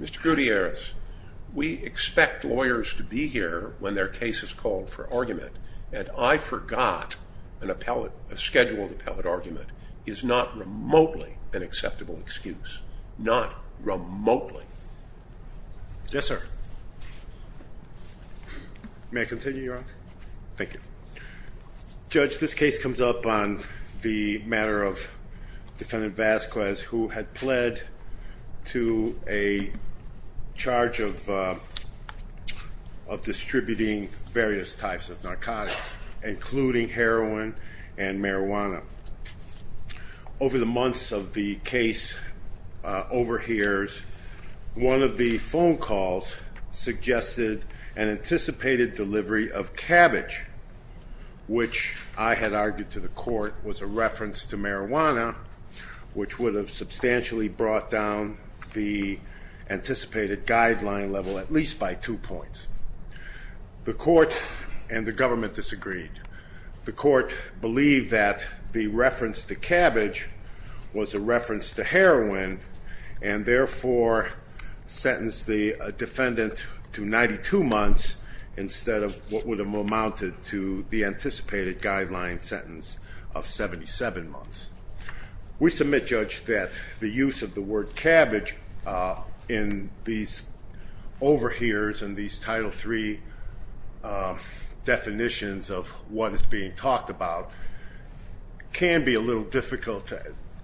Mr. Gutierrez, we expect lawyers to be here when their case is called for argument, and I forgot an appellate, a scheduled appellate argument is not remotely an acceptable excuse. Not remotely. Yes, sir. May I continue, Your Honor? Thank you. Judge, this case comes up on the matter of Defendant Vasquez, who had pled to a charge of distributing various types of narcotics, including heroin and marijuana. Over the months of the case overhears, one of the phone calls suggested an which would have substantially brought down the anticipated guideline level at least by two points. The court and the government disagreed. The court believed that the reference to cabbage was a reference to heroin, and therefore sentenced the defendant to 92 months instead of what would have amounted to the We submit, Judge, that the use of the word cabbage in these overhears and these Title III definitions of what is being talked about can be a little difficult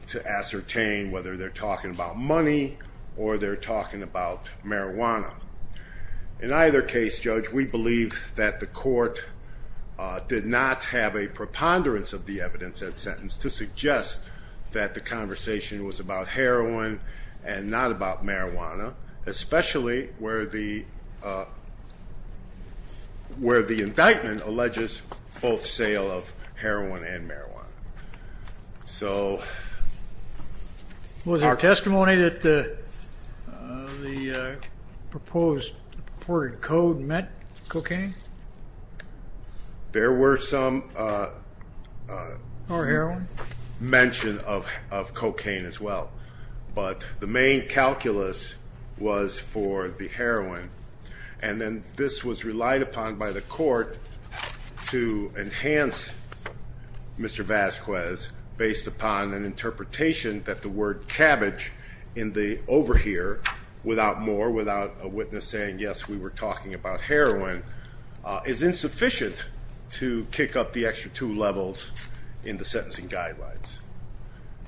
to ascertain whether they're talking about money or they're talking about marijuana. In either case, Judge, we believe that the court did not have a preponderance of the evidence in that sentence to suggest that the conversation was about heroin and not about marijuana, especially where the indictment alleges both sale of heroin and marijuana. Was there testimony that the proposed reported code met cocaine? There were some mention of cocaine as well, but the main calculus was for the heroin, and then this was relied upon by the court to enhance Mr. Vasquez based upon an interpretation that the word cabbage in the overhear, without more, without a witness saying, yes, we were talking about heroin, is insufficient to kick up the extra two levels in the sentencing guidelines.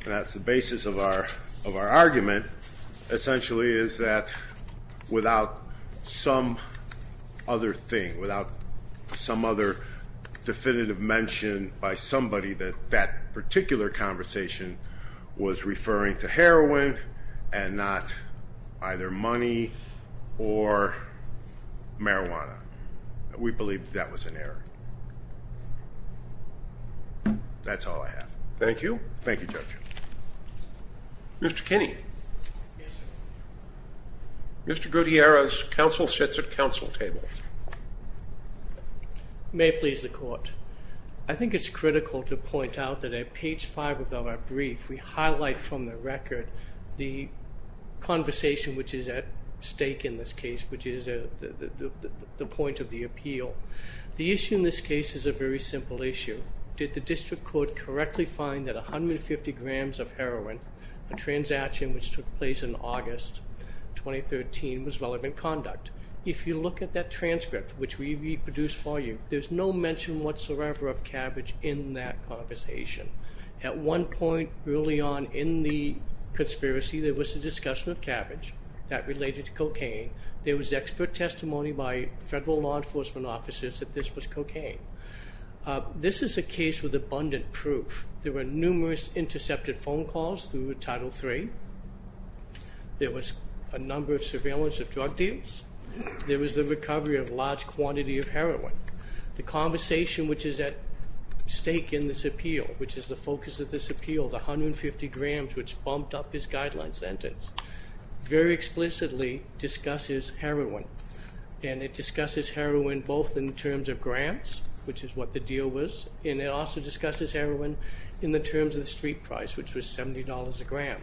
And that's the basis of our argument, essentially, is that without some other thing, without some other definitive mention by somebody that that particular conversation was referring to heroin and not either money or marijuana. We believe that was an error. That's all I have. Thank you. Thank you, Judge. Mr. Kinney. Yes, sir. Mr. Gutierrez, counsel sits at counsel table. May it please the court. I think it's critical to point out that at page five of our brief, we highlight from the record the conversation which is at stake in this case, which is the point of the appeal. The issue in this case is a very simple issue. Did the district court correctly find that 150 grams of heroin, a transaction which took place in August 2013, was relevant conduct? If you look at that transcript, which we reproduced for you, there's no mention whatsoever of cabbage in that conversation. At one point early on in the conspiracy, there was a discussion of cabbage that related to cocaine. There was expert testimony by federal law enforcement officers that this was cocaine. This is a case with abundant proof. There were numerous intercepted phone calls through Title III. There was a number of surveillance of drug deals. There was the recovery of large quantity of heroin. The conversation which is at stake in this appeal, which is the focus of this appeal, the 150 grams which bumped up his guideline sentence, very explicitly discusses heroin. And it discusses heroin both in terms of grams, which is what the deal was, and it also discusses heroin in the terms of the street price, which was $70 a gram.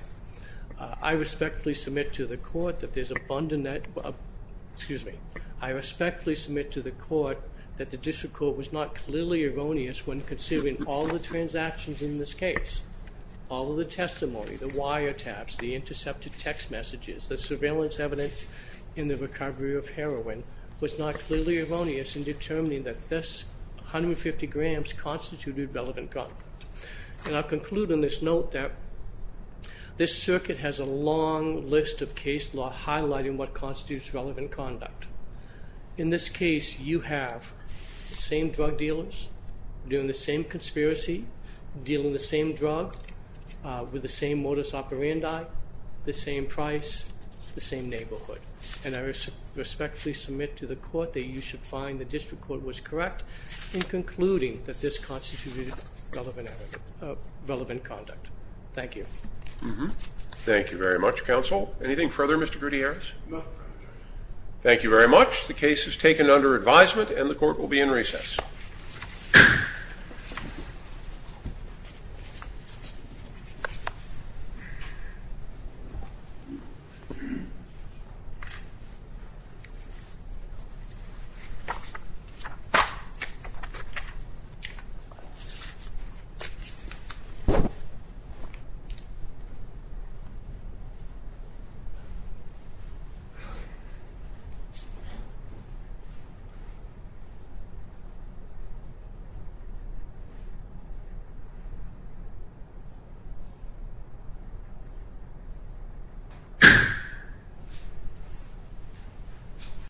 I respectfully submit to the court that there's abundant... Excuse me. I respectfully submit to the court that the district court was not clearly erroneous when considering all the transactions in this case. All of the testimony, the wiretaps, the intercepted text messages, the surveillance evidence in the recovery of heroin, was not clearly erroneous in determining that this 150 grams constituted relevant conduct. And I'll conclude on this note that this circuit has a long list of case law highlighting what constitutes relevant conduct. In this case, you have the same drug dealers doing the same conspiracy, dealing the same drug with the same modus operandi, the same price, the same neighborhood. And I respectfully submit to the court that you should find the district court was correct in concluding that this constituted relevant conduct. Thank you. Thank you very much, counsel. Anything further, Mr. Gutierrez? No. Thank you very much. The case is taken under advisement and the court will be in recess. Thank you. Thank you.